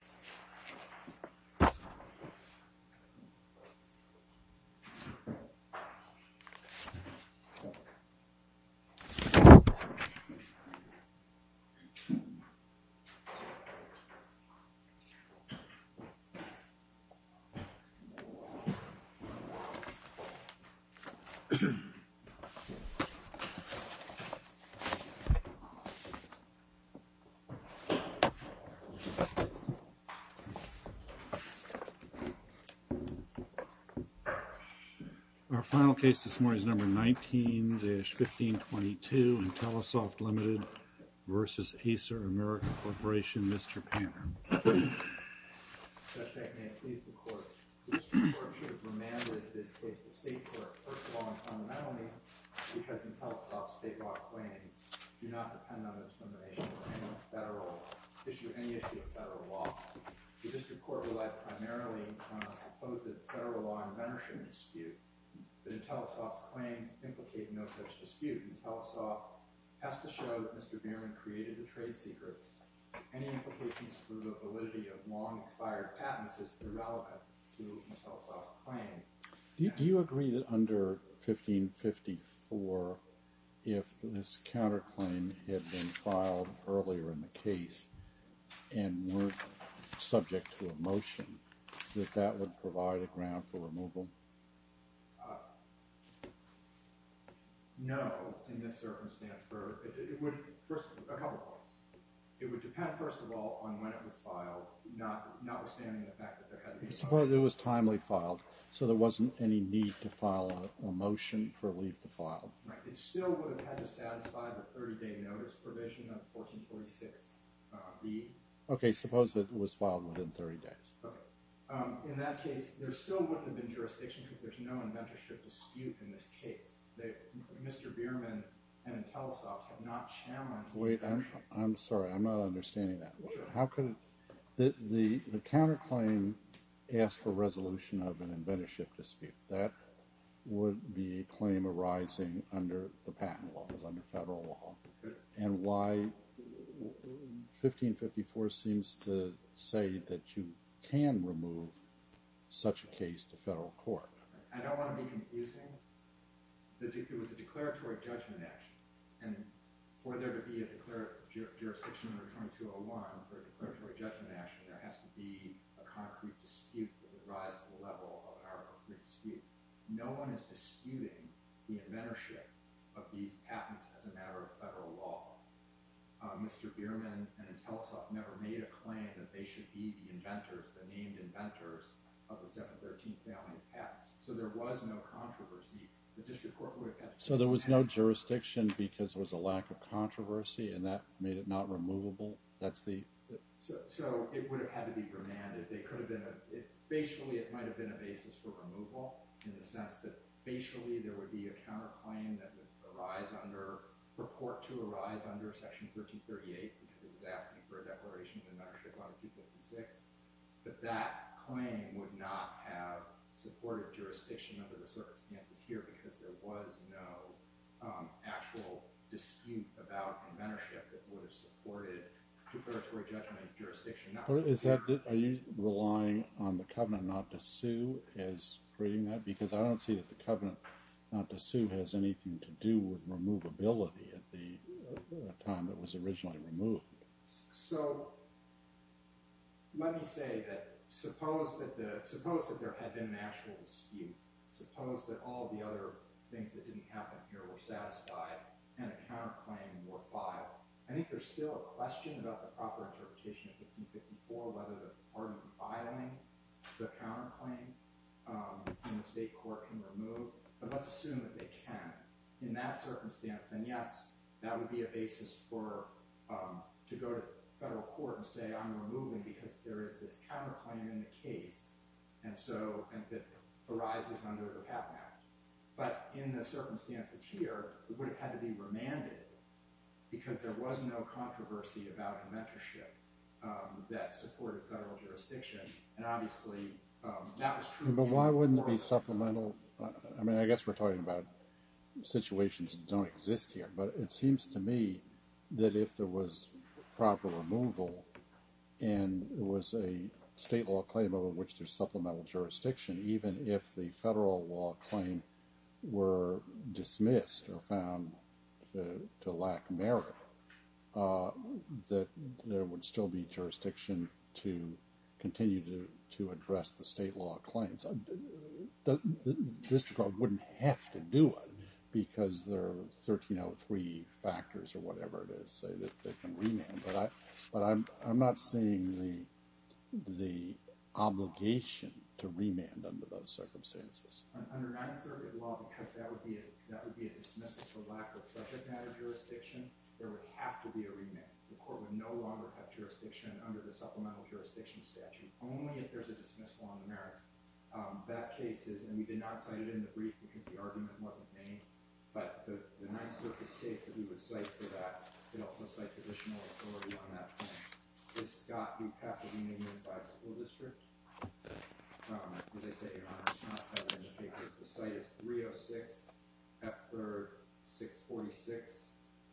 Judge, may it please the court, this court should have remanded this case to state court first of all and fundamentally, because Intellisoft's state law claims do not depend on discrimination or any issue of federal law. The district court relied primarily on a supposed federal law inventorship dispute, but Intellisoft's claims implicate no such dispute. Intellisoft has to show that Mr. Bierman created the trade secrets. Any implications for the validity of long-expired patents is irrelevant to Intellisoft's claims. Do you agree that under 1554, if this counterclaim had been filed earlier in the case and weren't subject to a motion, that that would provide a ground for removal? No, in this circumstance. It would depend, first of all, on when it was filed, notwithstanding the fact that there had to be... Suppose it was timely filed, so there wasn't any need to file a motion for a leave to file. Right. It still would have had to satisfy the 30-day notice provision of 1446B. Okay, suppose it was filed within 30 days. Okay. In that case, there still wouldn't have been jurisdiction because there's no inventorship dispute in this case. Mr. Bierman and Intellisoft have not challenged... Wait, I'm sorry. I'm not understanding that. The counterclaim asks for resolution of an inventorship dispute. That would be a claim arising under the patent laws, under federal law. And why... 1554 seems to say that you can remove such a case to federal court. I don't want to be confusing. It was a declaratory judgment action. And for there to be a jurisdiction under 2201 for a declaratory judgment action, there has to be a concrete dispute that would rise to the level of an arbitrary dispute. No one is disputing the inventorship of these patents as a matter of federal law. Mr. Bierman and Intellisoft never made a claim that they should be the inventors, the named inventors, of the 713th family of patents. So there was no controversy. The district court would have... So there was no jurisdiction because there was a lack of controversy and that made it not removable? That's the... So it would have had to be remanded. They could have been... Facially, it might have been a basis for removal in the sense that facially there would be a counterclaim that would arise under, purport to arise under section 1338 because it was asking for a declaration of inventorship under 256. But that claim would not have supported jurisdiction under the circumstances here because there was no actual dispute about inventorship that would have supported declaratory judgment jurisdiction. Are you relying on the covenant not to sue as creating that? Because I don't see that the covenant not to sue has anything to do with removability at the time it was originally removed. So let me say that suppose that there had been an actual dispute. Suppose that all the other things that didn't happen here were satisfied and a counterclaim were filed. I think there's still a question about the proper interpretation of 1554 whether the part of filing the counterclaim in the state court can remove. But let's assume that they can. In that circumstance, then yes, that would be a basis for to go to federal court and say I'm removing because there is this counterclaim in the case and so it arises under the PAP Act. But in the circumstances here, it would have had to be that supported federal jurisdiction and obviously that was true. But why wouldn't it be supplemental? I mean, I guess we're talking about situations that don't exist here. But it seems to me that if there was proper removal and it was a state law claim over which there's supplemental jurisdiction, even if the federal law claim were dismissed or found to lack merit, that there would still be jurisdiction to continue to address the state law claims. The district court wouldn't have to do it because there are 1303 factors or whatever it is that can remand. But I'm not seeing the obligation to remand under those circumstances. Under 9th Circuit law, because that would be a dismissal for lack of subject matter jurisdiction, there would have to be a remand. The court would no longer have jurisdiction under the supplemental jurisdiction statute, only if there's a dismissal on the merits. That case is, and we did not cite it in the brief because the argument wasn't named, but the 9th Circuit case that we would cite for that, it also cites additional authority on that case. It's Scott v. Pasadena Unified School District. As I said, Your Honor, it's not cited in the papers. The site is 306 F 3rd 646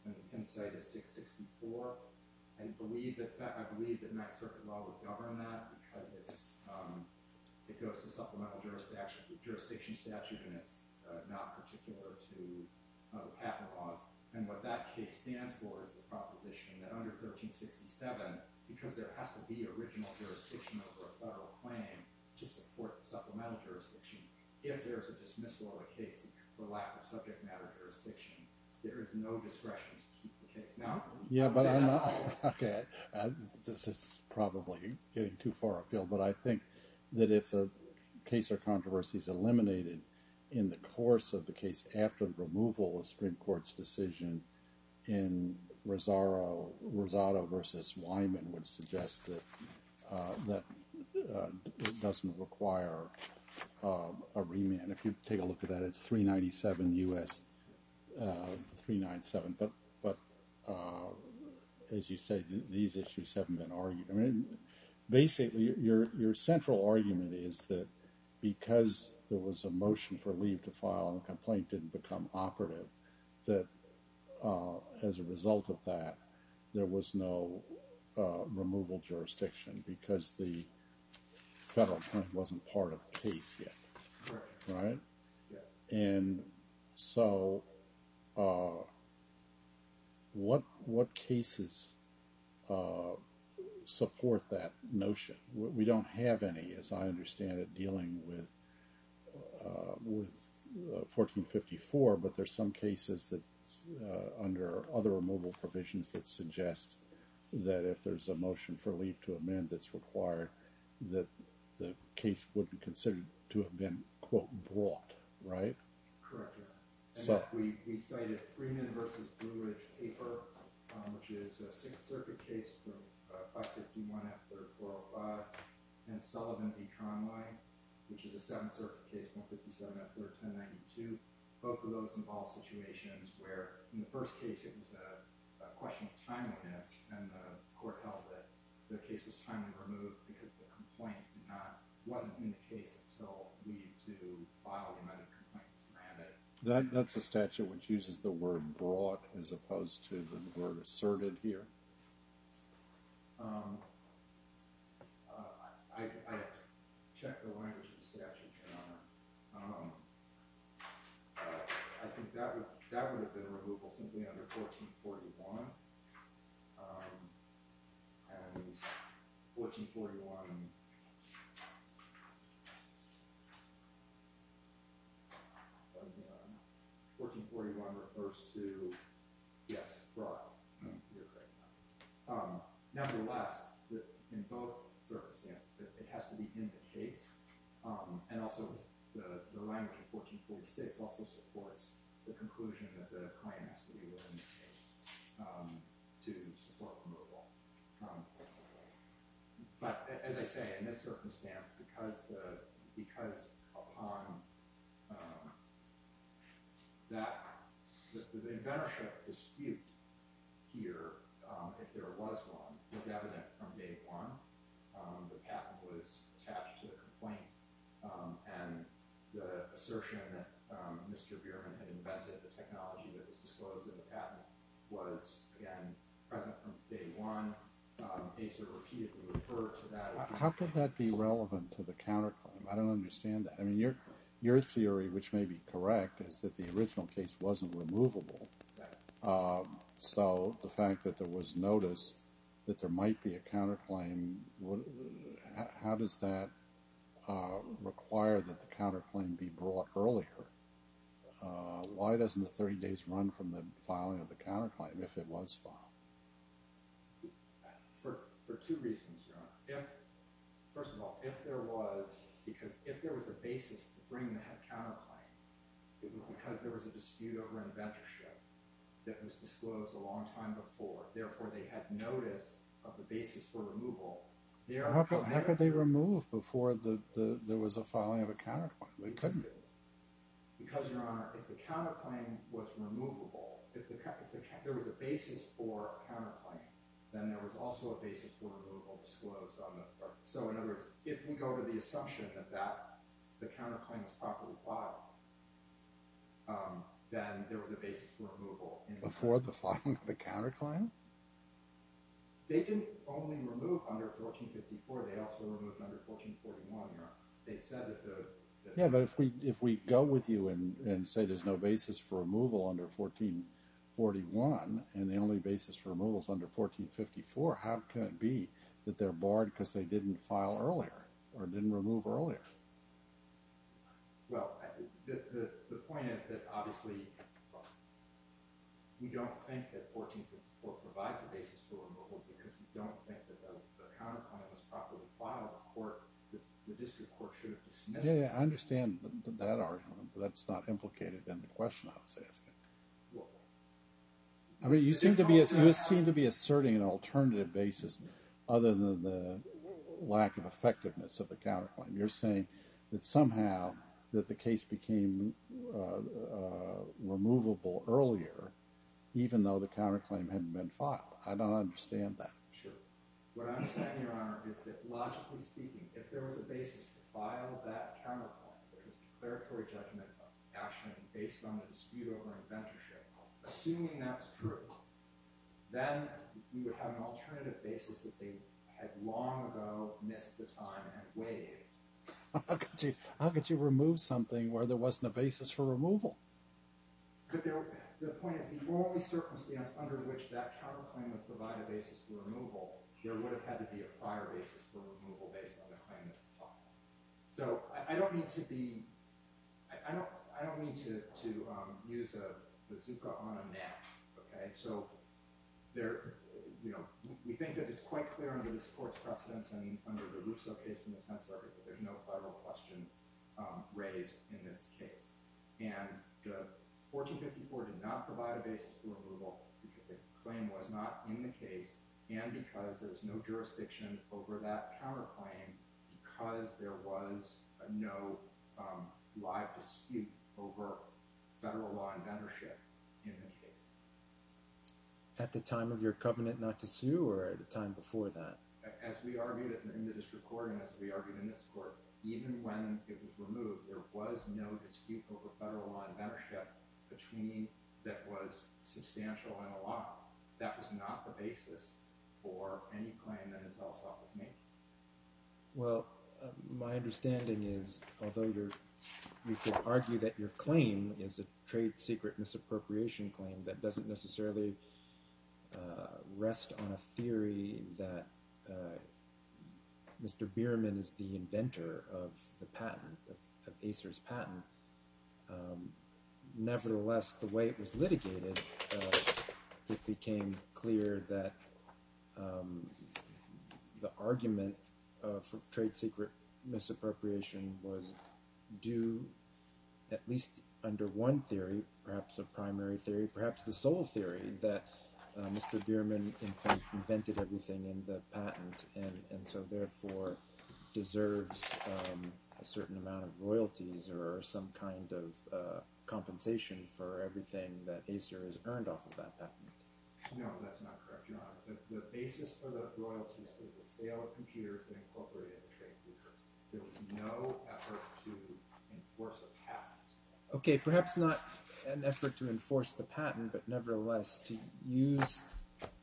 and the pen site is 664. And I believe that 9th Circuit law would govern that because it goes to supplemental jurisdiction statute and it's not particular to the patent laws. And what that case stands for is the proposition that under 1367, because there has to be original jurisdiction over a federal claim to support the supplemental jurisdiction, if there's a dismissal of a case for lack of subject matter jurisdiction, there is no discretion to keep the case. No? Yeah, but I'm not, okay, this is probably getting too far afield, but I think that if a case or controversy is eliminated in the course of the case after the removal of Supreme Court's decision in Rosado v. Wyman would suggest that it doesn't require a remand. If you take a look at that, it's 397 U.S. 397. But as you say, these issues haven't been argued. I mean, basically your central argument is that because there was a motion for leave to file and the complaint didn't become operative, that as a result of that, there was no removal jurisdiction because the federal plan wasn't part of the case yet. Right? And so what cases support that notion? We don't have any, as I understand it, dealing with 1454, but there's some cases that under other removal provisions that suggest that if there's a motion for leave to amend that's required, that the case would be considered to have been, quote, brought. Right? Correct, Your Honor. We cited Freeman v. Blue Ridge paper, which is a 6th Circuit case from 157.3.10.92. Both of those involve situations where in the first case it was a question of timeliness and the court held that the case was timely removed because the complaint did not, wasn't in the case until leave to file the amended complaint was granted. That's a statute which uses the word brought as opposed to the word asserted here. I checked the language of the statute, Your Honor. I think that would have been a removal simply under 1441, and 1441 refers to, yes, brought. Nevertheless, in both circumstances, it has to be in the case, and also the language of the claim has to be within the case to support removal. But as I say, in this circumstance, because upon that, the inventorship dispute here, if there was one, was evident from day one. The patent was attached to the complaint, and the assertion that Mr. Bierman had invented the technology that was disclosed in the patent was, again, present from day one. Acer repeatedly referred to that. How could that be relevant to the counterclaim? I don't understand that. I mean, your theory, which may be correct, is that the original case wasn't removable. So the fact that there was notice that there might be a counterclaim, how does that require that the counterclaim be brought earlier? Why doesn't the 30 days run from the filing of the counterclaim if it was filed? For two reasons, Your Honor. First of all, if there was, because if there was a basis to bring the head counterclaim, because there was a dispute over inventorship that was disclosed a long time before, therefore they had notice of the basis for removal. How could they remove before there was a filing of a counterclaim? They couldn't. Because, Your Honor, if the counterclaim was removable, if there was a basis for a counterclaim, then there was also a basis for removal disclosed. So in other words, if we go to the assumption that the counterclaim was properly filed, then there was a basis for removal. Before the filing of the counterclaim? They didn't only remove under 1454, they also removed under 1441, Your Honor. Yeah, but if we go with you and say there's no basis for removal under 1441, and the only basis for removal is under 1454, how can it be that they're barred because they didn't file earlier or didn't remove earlier? Well, the point is that obviously we don't think that 1454 provides a basis for removal because we don't think that the counterclaim was properly filed in court. The district court should have dismissed it. Yeah, I understand that argument, but that's not implicated in the question I was asking. I mean, you seem to be asserting an alternative basis other than the lack of effectiveness of the counterclaim. You're saying that somehow that the case became removable earlier, even though the counterclaim hadn't been filed. I don't understand that. Sure. What I'm saying, Your Honor, is that logically speaking, if there was a basis to file that counterclaim, if there was declaratory judgment of action based on the dispute over inventorship, assuming that's true, then we would have an alternative basis that they had long ago missed the time and waived. How could you remove something where there wasn't a basis for removal? The point is the only circumstance under which that counterclaim would provide a basis for removal, there would have had to be a prior basis for removal based on the claim that was filed. I don't mean to use a bazooka on a knack. We think that it's quite clear under this Court's precedence and under the Russo case from the 10th Circuit that there's no federal question raised in this case. And the 1454 did not provide a basis for removal because the claim was not in the case and because there was no jurisdiction over that counterclaim because there was no live dispute over federal law inventorship in the case. At the time of your covenant not to sue or at the time before that? As we argued in the district court and as we argued in this court, even when it was removed, there was no dispute over federal law inventorship that was substantial in the law. That was not the basis for any claim that his house office made. Well, my understanding is although you could argue that your claim is a trade secret misappropriation claim that doesn't necessarily rest on a theory that Mr. Bierman is the inventor of the patent, of Acer's patent. Nevertheless, the way it was litigated, it became clear that the argument for trade secret misappropriation was due at least under one theory, perhaps a primary theory, perhaps the sole theory that Mr. Bierman invented everything in the patent and so therefore deserves a certain amount of royalties or some kind of compensation for everything that Acer has earned off of that patent. No, that's not correct, John. The basis for the royalties was the sale of computers that incorporated the trade secrets. There was no effort to enforce a patent. Okay, perhaps not an effort to enforce the patent, but nevertheless to use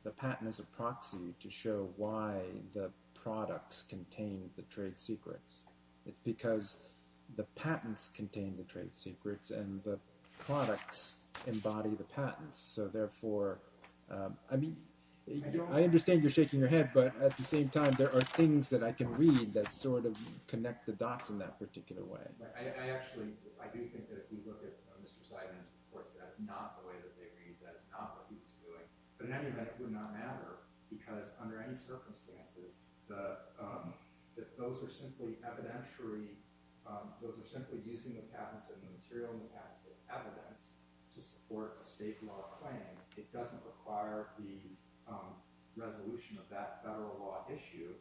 the patent as a proxy to show why the products contained the trade secrets. It's because the patents contained the trade secrets and the products embody the patents. So therefore, I mean, I understand you're shaking your head, but at the same time there are things that I can read that sort of connect the dots in that particular way. I actually, I do think that if we look at Mr. Seidman's reports, that's not the way that they read, that's not what he was doing. But in any event, it would not matter because under any circumstances, if those are simply evidentiary, those are simply using the patents and the material in the patents as evidence to support a state law claim, it doesn't require the resolution of that federal law issue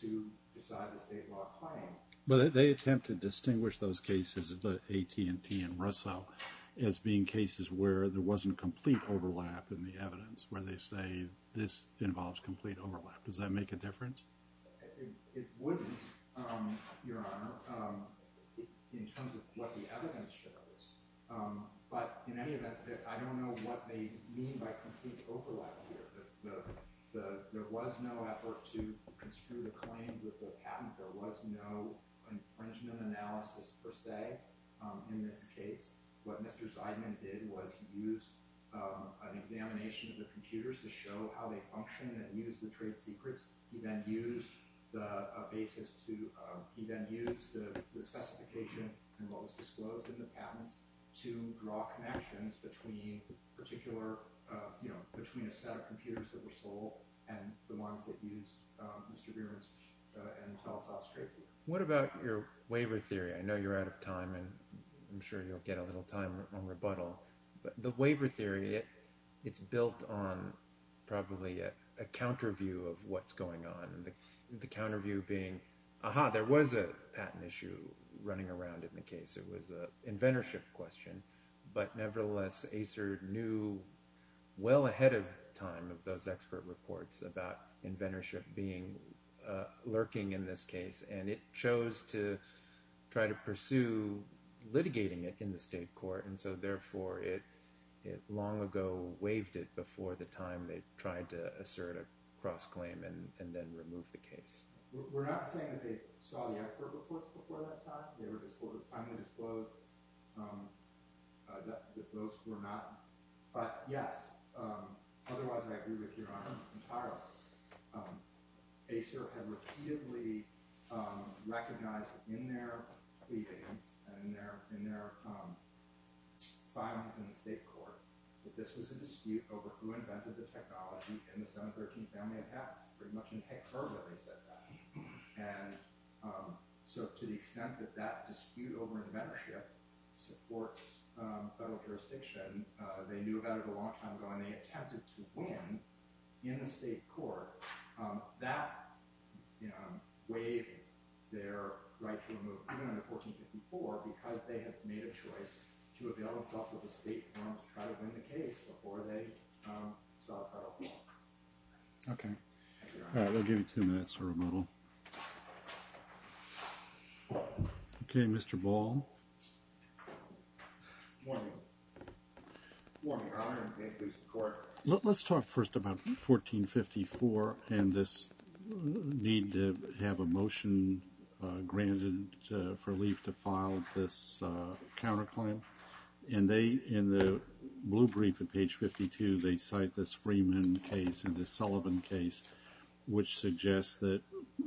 to decide a state law claim. But they attempt to distinguish those cases, the AT&T and Russo, as being cases where there wasn't complete overlap in the evidence, where they say this involves complete overlap. Does that make a difference? It wouldn't, Your Honor, in terms of what the evidence shows. But in any event, I don't know what they mean by complete overlap here. There was no effort to construe the claims of the patent. There was no infringement analysis per se in this case. What Mr. Seidman did was he used an examination of the computers to show how they function and use the trade secrets. He then used the basis to – he then used the specification and what was disclosed in the patents to draw connections between particular – between a set of computers that were sold and the ones that used Mr. Bierman's and Telesoft's trade secrets. What about your waiver theory? I know you're out of time, and I'm sure you'll get a little time on rebuttal. The waiver theory, it's built on probably a counter view of what's going on. The counter view being, aha, there was a patent issue running around in the case. It was an inventorship question. But nevertheless, ACER knew well ahead of time of those expert reports about inventorship being lurking in this case, and it chose to try to pursue litigating it in the state court. And so therefore, it long ago waived it before the time they tried to assert a cross-claim and then remove the case. We're not saying that they saw the expert reports before that time. They were undisclosed. Those were not – but yes, otherwise I agree with your honor entirely. ACER had repeatedly recognized in their pleadings and in their filings in the state court that this was a dispute over who invented the technology in the 713 family of hats. Pretty much in heck's order they said that. And so to the extent that that dispute over inventorship supports federal jurisdiction, they knew about it a long time ago, and they attempted to win in the state court. That waived their right to remove it, even under 1454, because they had made a choice to avail themselves of the state forum to try to win the case before they saw a federal forum. Okay. All right, we'll give you two minutes for rebuttal. Okay, Mr. Ball. Let's talk first about 1454 and this need to have a motion granted for Lief to file this counterclaim. In the blue brief at page 52, they cite this Freeman case and this Sullivan case, which suggests that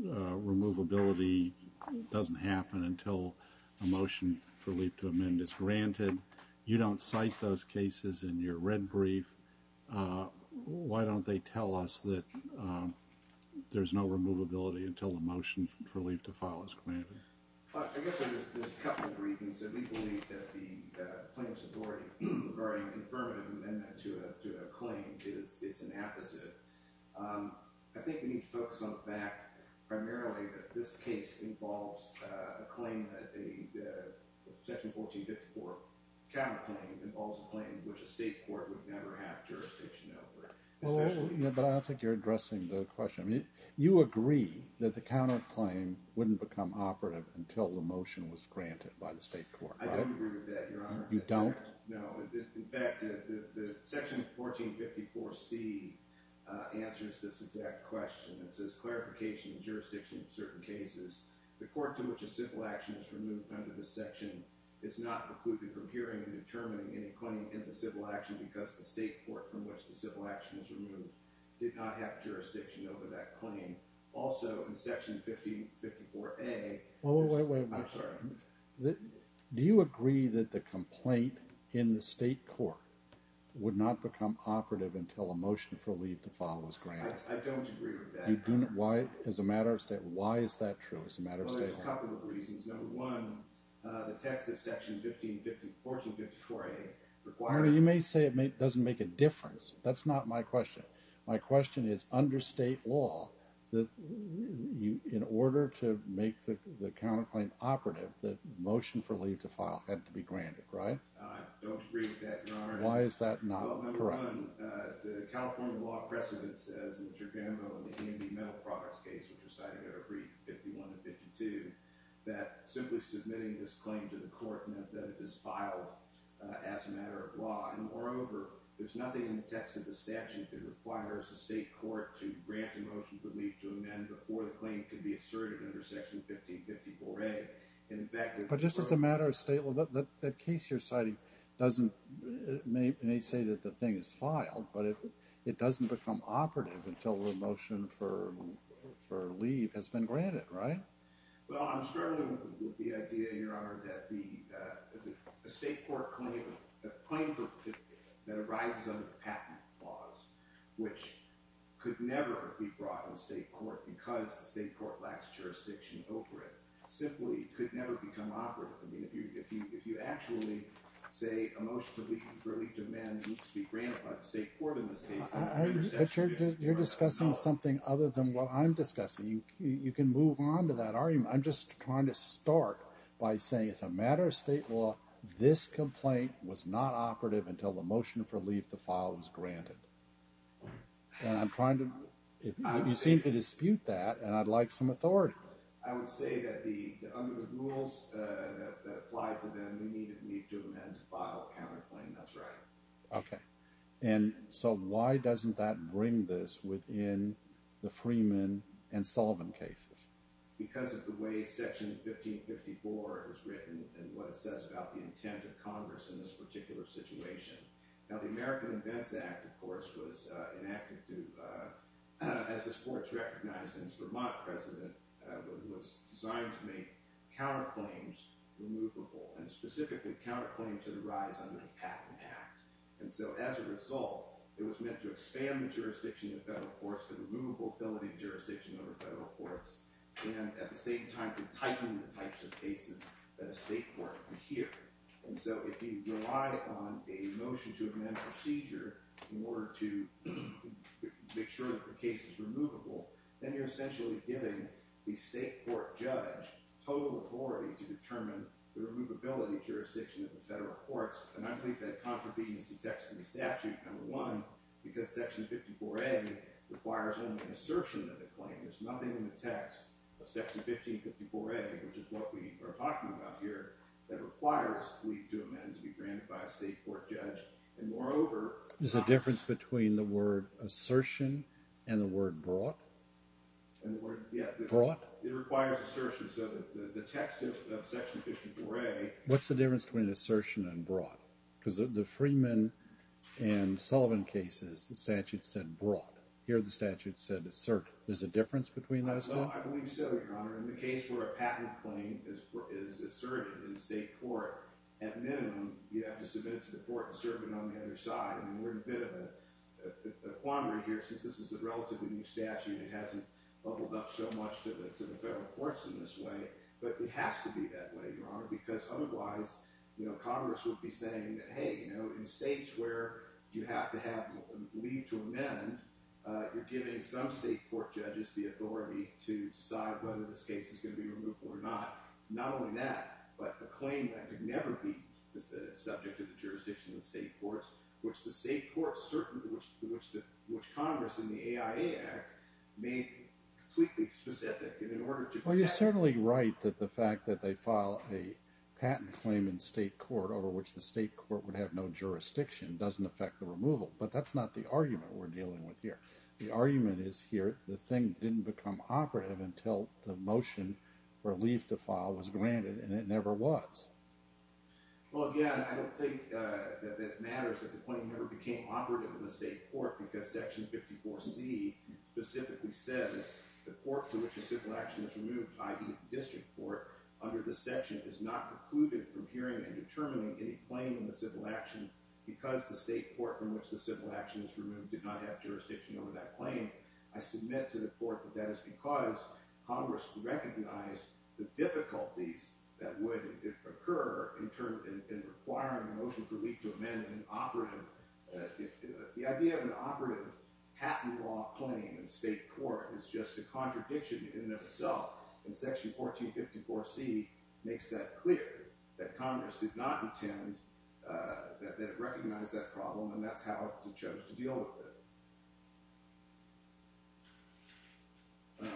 removability doesn't happen until a motion for Lief to amend is granted. You don't cite those cases in your red brief. Why don't they tell us that there's no removability until a motion for Lief to file is granted? I guess there's a couple of reasons. One is that we believe that the plaintiff's authority regarding a confirmative amendment to a claim is an apposite. I think we need to focus on the fact primarily that this case involves a claim that a section 1454 counterclaim involves a claim which a state court would never have jurisdiction over. But I don't think you're addressing the question. You agree that the counterclaim wouldn't become operative until the motion was granted by the state court, right? I don't agree with that, Your Honor. You don't? No. In fact, section 1454C answers this exact question. It says, clarification of jurisdiction in certain cases. The court to which a civil action is removed under this section is not excluded from hearing and determining any claim in the civil action because the state court from which the civil action is removed did not have jurisdiction over that claim. Also, in section 1554A... Wait, wait, wait. I'm sorry. Do you agree that the complaint in the state court would not become operative until a motion for Lief to file was granted? I don't agree with that, Your Honor. Why is that true as a matter of state court? Well, there's a couple of reasons. Number one, the text of section 1454A requires... Your Honor, you may say it doesn't make a difference. That's not my question. My question is, under state law, in order to make the counterclaim operative, the motion for Lief to file had to be granted, right? I don't agree with that, Your Honor. Why is that not correct? Well, number one, the California law precedent says, in the Giacomo and the Andy Metal Products case, which are cited in our brief, 51 to 52, that simply submitting this claim to the court meant that it was filed as a matter of law. And moreover, there's nothing in the text of the statute that requires the state court to grant the motion for Lief to amend before the claim can be asserted under section 1554A. But just as a matter of state law, that case you're citing may say that the thing is filed, but it doesn't become operative until the motion for Lief has been granted, right? Well, I'm struggling with the idea, Your Honor, that a state court claim that arises under patent laws, which could never be brought in state court because the state court lacks jurisdiction over it, simply could never become operative. I mean, if you actually say a motion for Lief to amend needs to be granted by the state court in this case, then the interception is probably not possible. But you're discussing something other than what I'm discussing. You can move on to that argument. I'm just trying to start by saying it's a matter of state law. This complaint was not operative until the motion for Lief to file was granted. And I'm trying to—you seem to dispute that, and I'd like some authority. I would say that under the rules that apply to them, we need Lief to amend to file a counterclaim. That's right. Okay. And so why doesn't that bring this within the Freeman and Sullivan cases? Because of the way Section 1554 was written and what it says about the intent of Congress in this particular situation. Now, the American Invents Act, of course, was enacted to— as this court's recognized as Vermont president, was designed to make counterclaims removable and specifically counterclaims that arise under the Patent Act. And so as a result, it was meant to expand the jurisdiction of federal courts to the removable ability of jurisdiction over federal courts and at the same time to tighten the types of cases that a state court would hear. And so if you rely on a motion to amend a procedure in order to make sure that the case is removable, then you're essentially giving the state court judge total authority to determine the removability jurisdiction of the federal courts. And I believe that contravenes the text of the statute, number one, because Section 54A requires only an assertion of the claim. There's nothing in the text of Section 1554A, which is what we are talking about here, that requires Lief to amend to be granted by a state court judge. There's a difference between the word assertion and the word brought? Brought? What's the difference between assertion and brought? Because the Freeman and Sullivan cases, the statute said brought. Here the statute said assert. There's a difference between those two? We're in a bit of a quandary here since this is a relatively new statute. It hasn't bubbled up so much to the federal courts in this way, but it has to be that way, Your Honor, because otherwise Congress would be saying that, hey, in states where you have to have Lief to amend, you're giving some state court judges the authority to decide whether this case is going to be removable or not. Not only that, but the claim that it would never be subject to the jurisdiction of the state courts, which the state courts, which Congress in the AIA Act made completely specific. Well, you're certainly right that the fact that they file a patent claim in state court over which the state court would have no jurisdiction doesn't affect the removal, but that's not the argument we're dealing with here. The argument is here the thing didn't become operative until the motion for Lief to file was granted, and it never was. Well, again, I don't think that it matters that the claim never became operative in the state court because Section 54C specifically says the court to which a civil action is removed, i.e. the district court, under this section, is not precluded from hearing and determining any claim in the civil action because the state court from which the civil action is removed did not have jurisdiction over that claim. I submit to the court that that is because Congress recognized the difficulties that would occur in requiring a motion for Lief to amend an operative. The idea of an operative patent law claim in state court is just a contradiction in and of itself, and Section 1454C makes that clear, that Congress did not intend that it recognize that problem, and that's how it chose to deal with it.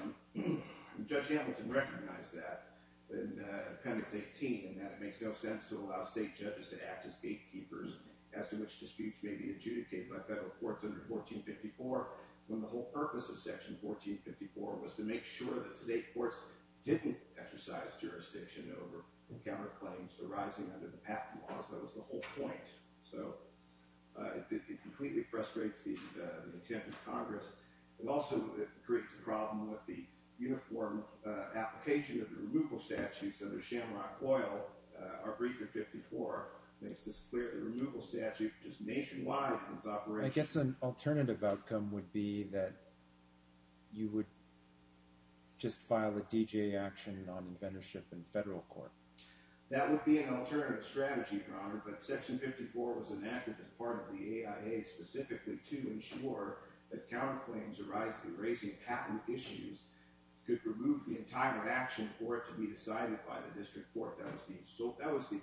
Judge Hamilton recognized that in Appendix 18, in that it makes no sense to allow state judges to act as gatekeepers as to which disputes may be adjudicated by federal courts under 1454 when the whole purpose of Section 1454 was to make sure that state courts didn't exercise jurisdiction over counterclaims arising under the patent laws. That was the whole point. So, it completely frustrates the intent of Congress. It also creates a problem with the uniform application of the removal statutes under Shamrock Oil. Our brief in 54 makes this clear, the removal statute, which is nationwide in its operation. I guess an alternative outcome would be that you would just file a D.J. action on inventorship in federal court. That would be an alternative strategy, but Section 54 was enacted as part of the AIA specifically to ensure that counterclaims arising in patent issues could remove the entire action for it to be decided by the district court. That was the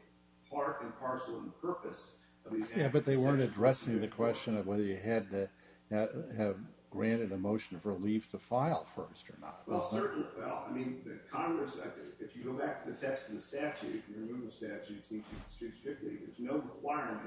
part and parcel and purpose of these actions. Yeah, but they weren't addressing the question of whether you had to have granted a motion of relief to file first or not. Well, certainly, well, I mean, Congress, if you go back to the text of the statute, the removal statute seems to be strictly, there's no requirement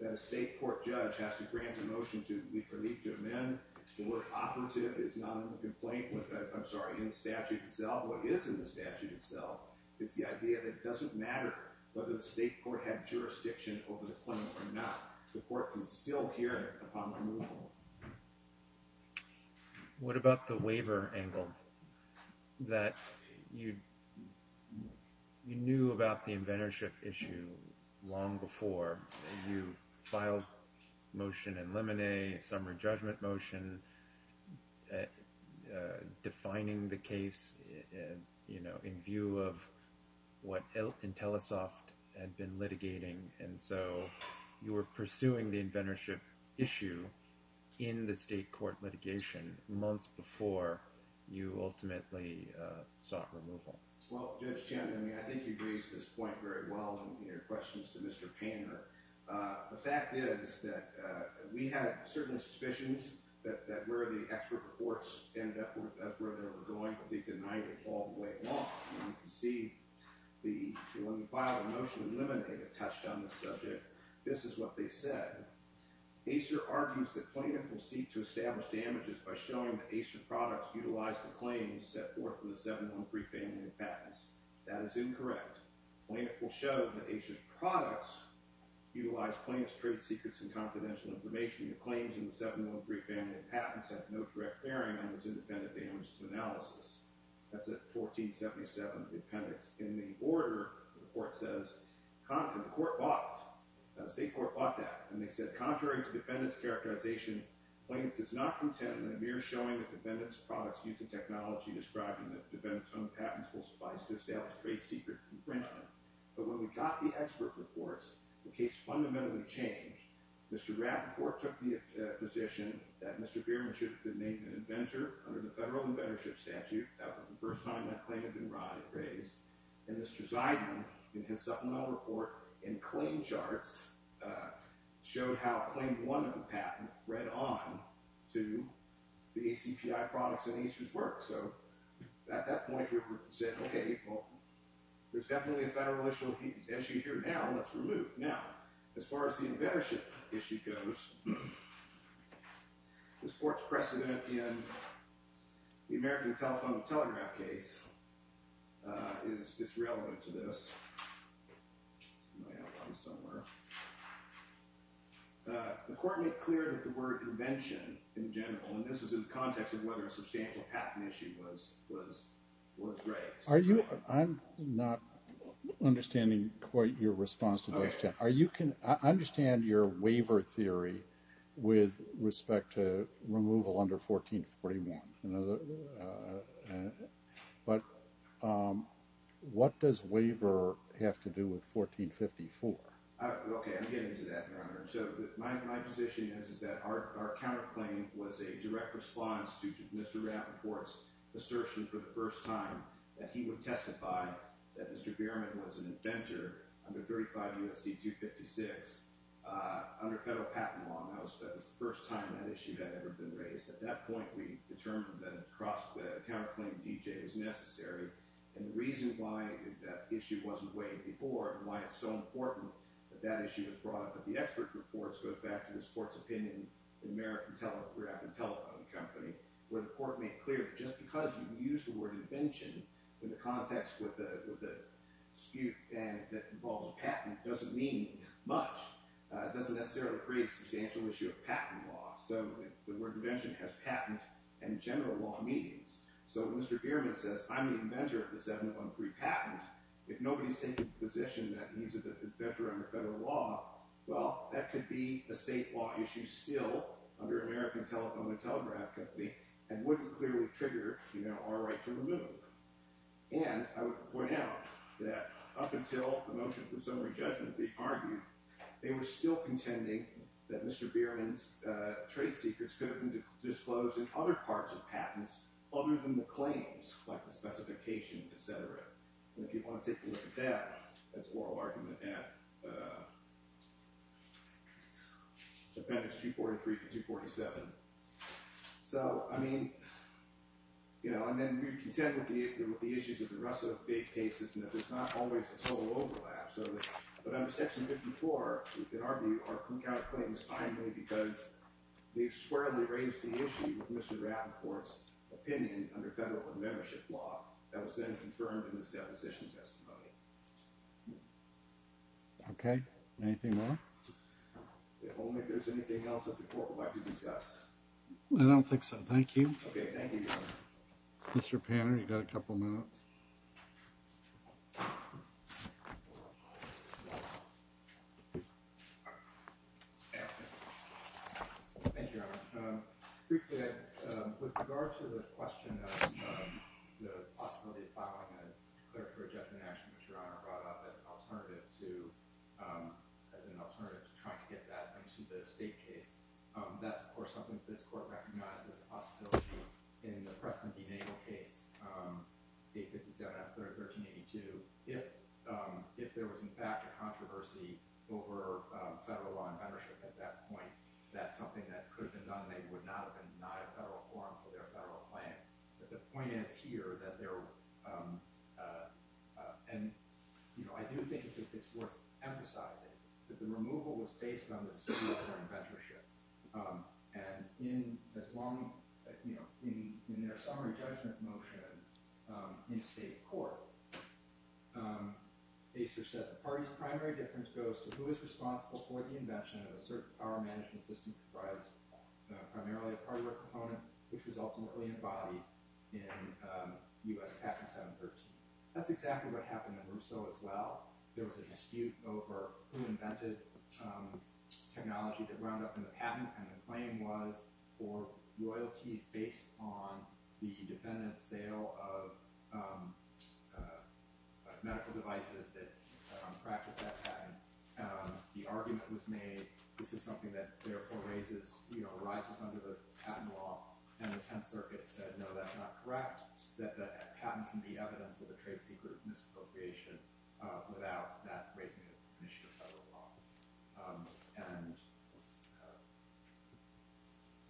that a state court judge has to grant a motion of relief to amend. The word operative is not in the complaint, I'm sorry, in the statute itself. What is in the statute itself is the idea that it doesn't matter whether the state court had jurisdiction over the claim or not. The court can still hear it upon removal. What about the waiver angle that you knew about the inventorship issue long before? You filed motion in limine, summary judgment motion, defining the case, you know, in view of what Intellisoft had been litigating, and so you were pursuing the inventorship issue in the state court litigation months before you ultimately sought removal. Well, Judge Chandler, I think you raised this point very well in your questions to Mr. Painter. The fact is that we had certain suspicions that where the expert reports ended up, that's where they were going, but they denied it all the way along. You can see when we filed a motion in limine, they had touched on the subject. This is what they said. Acer argues that plaintiff will seek to establish damages by showing that Acer products utilize the claims set forth in the 713 family of patents. That is incorrect. Plaintiff will show that Acer's products utilize plaintiff's trade secrets and confidential information. The claims in the 713 family of patents have no direct bearing on this independent damages analysis. That's at 1477, the appendix. In the order, the court says, the court bought, the state court bought that, and they said contrary to defendant's characterization, plaintiff is not content in a mere showing that defendant's products use the technology described in the defendant's own patents will suffice to establish trade secret infringement. But when we got the expert reports, the case fundamentally changed. Mr. Rapp, the court took the position that Mr. Bierman should have been made an inventor under the federal inventorship statute. That was the first time that claim had been raised. And Mr. Zeidman, in his supplemental report and claim charts, showed how claim one of the patent read on to the ACPI products in Acer's work. So at that point, we said, okay, well, there's definitely a federal issue here now. Let's remove. Now, as far as the inventorship issue goes, this court's precedent in the American Telephone and Telegraph case is relevant to this. The court made clear that the word invention in general, and this was in the context of whether a substantial patent issue was raised. I'm not understanding quite your response to this. I understand your waiver theory with respect to removal under 1441. But what does waiver have to do with 1454? Okay, I'll get into that, Your Honor. So my position is that our counterclaim was a direct response to Mr. Rapp's assertion for the first time that he would testify that Mr. Bierman was an inventor under 35 U.S.C. 256 under federal patent law. And that was the first time that issue had ever been raised. At that point, we determined that a counterclaim to D.J. was necessary. And the reason why that issue wasn't weighed before and why it's so important that that issue was brought up at the expert reports goes back to this court's opinion in American Telegram and Telephone Company where the court made clear that just because you use the word invention in the context with a dispute that involves a patent doesn't mean much. It doesn't necessarily create a substantial issue of patent law. So the word invention has patent and general law meanings. So Mr. Bierman says, I'm the inventor of the 713 patent. If nobody's taking the position that he's an inventor under federal law, well, that could be a state law issue still under American Telegram and Telegraph Company and wouldn't clearly trigger our right to remove. And I would point out that up until the motion for summary judgment, they argued, they were still contending that Mr. Bierman's trade secrets could have been disclosed in other parts of patents other than the claims, like the specification, et cetera. And if you want to take a look at that, that's an oral argument at appendix 243 to 247. So, I mean, you know, and then we contend with the issues of the rest of the cases and that there's not always a total overlap. But under section 54, we can argue our counterclaim is finally because they've squarely raised the issue with Mr. Rappaport's opinion under federal membership law that was then confirmed in his deposition testimony. Okay. Anything more? If only there's anything else that the court would like to discuss. I don't think so. Thank you. Okay. Thank you, Your Honor. Mr. Panner, you've got a couple minutes. Thank you, Your Honor. Briefly, with regard to the question of the possibility of filing a clerical rejection action, which Your Honor brought up as an alternative to trying to get that into the state case, that's, of course, something that this court recognizes as a possibility. In the Preston v. Nagle case, 857 after 1382, if there was, in fact, a controversy over federal law and membership at that point, that's something that could have been done. They would not have been denied a federal quorum for their federal plan. But the point is here that there – and, you know, I do think it's worth emphasizing that the removal was based on the Supreme Court inventorship. And in as long – you know, in their summary judgment motion in state court, Acer said the party's primary difference goes to who is responsible for the invention of a certain power management system comprised primarily of party work component, which was ultimately embodied in U.S. Patent 713. That's exactly what happened in Rousseau as well. There was a dispute over who invented technology that wound up in the patent, and the claim was for royalties based on the defendant's sale of medical devices that practiced that patent. The argument was made this is something that therefore raises – you know, arises under the patent law. And the Tenth Circuit said, no, that's not correct, that the patent can be evidence of a trade secret misappropriation without that raising an issue of federal law. And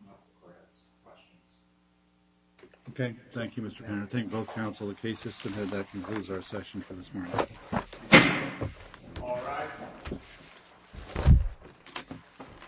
unless the court has questions. Okay. Thank you, Mr. Penner. I thank both counsel and the case system. And that concludes our session for this morning. All rise.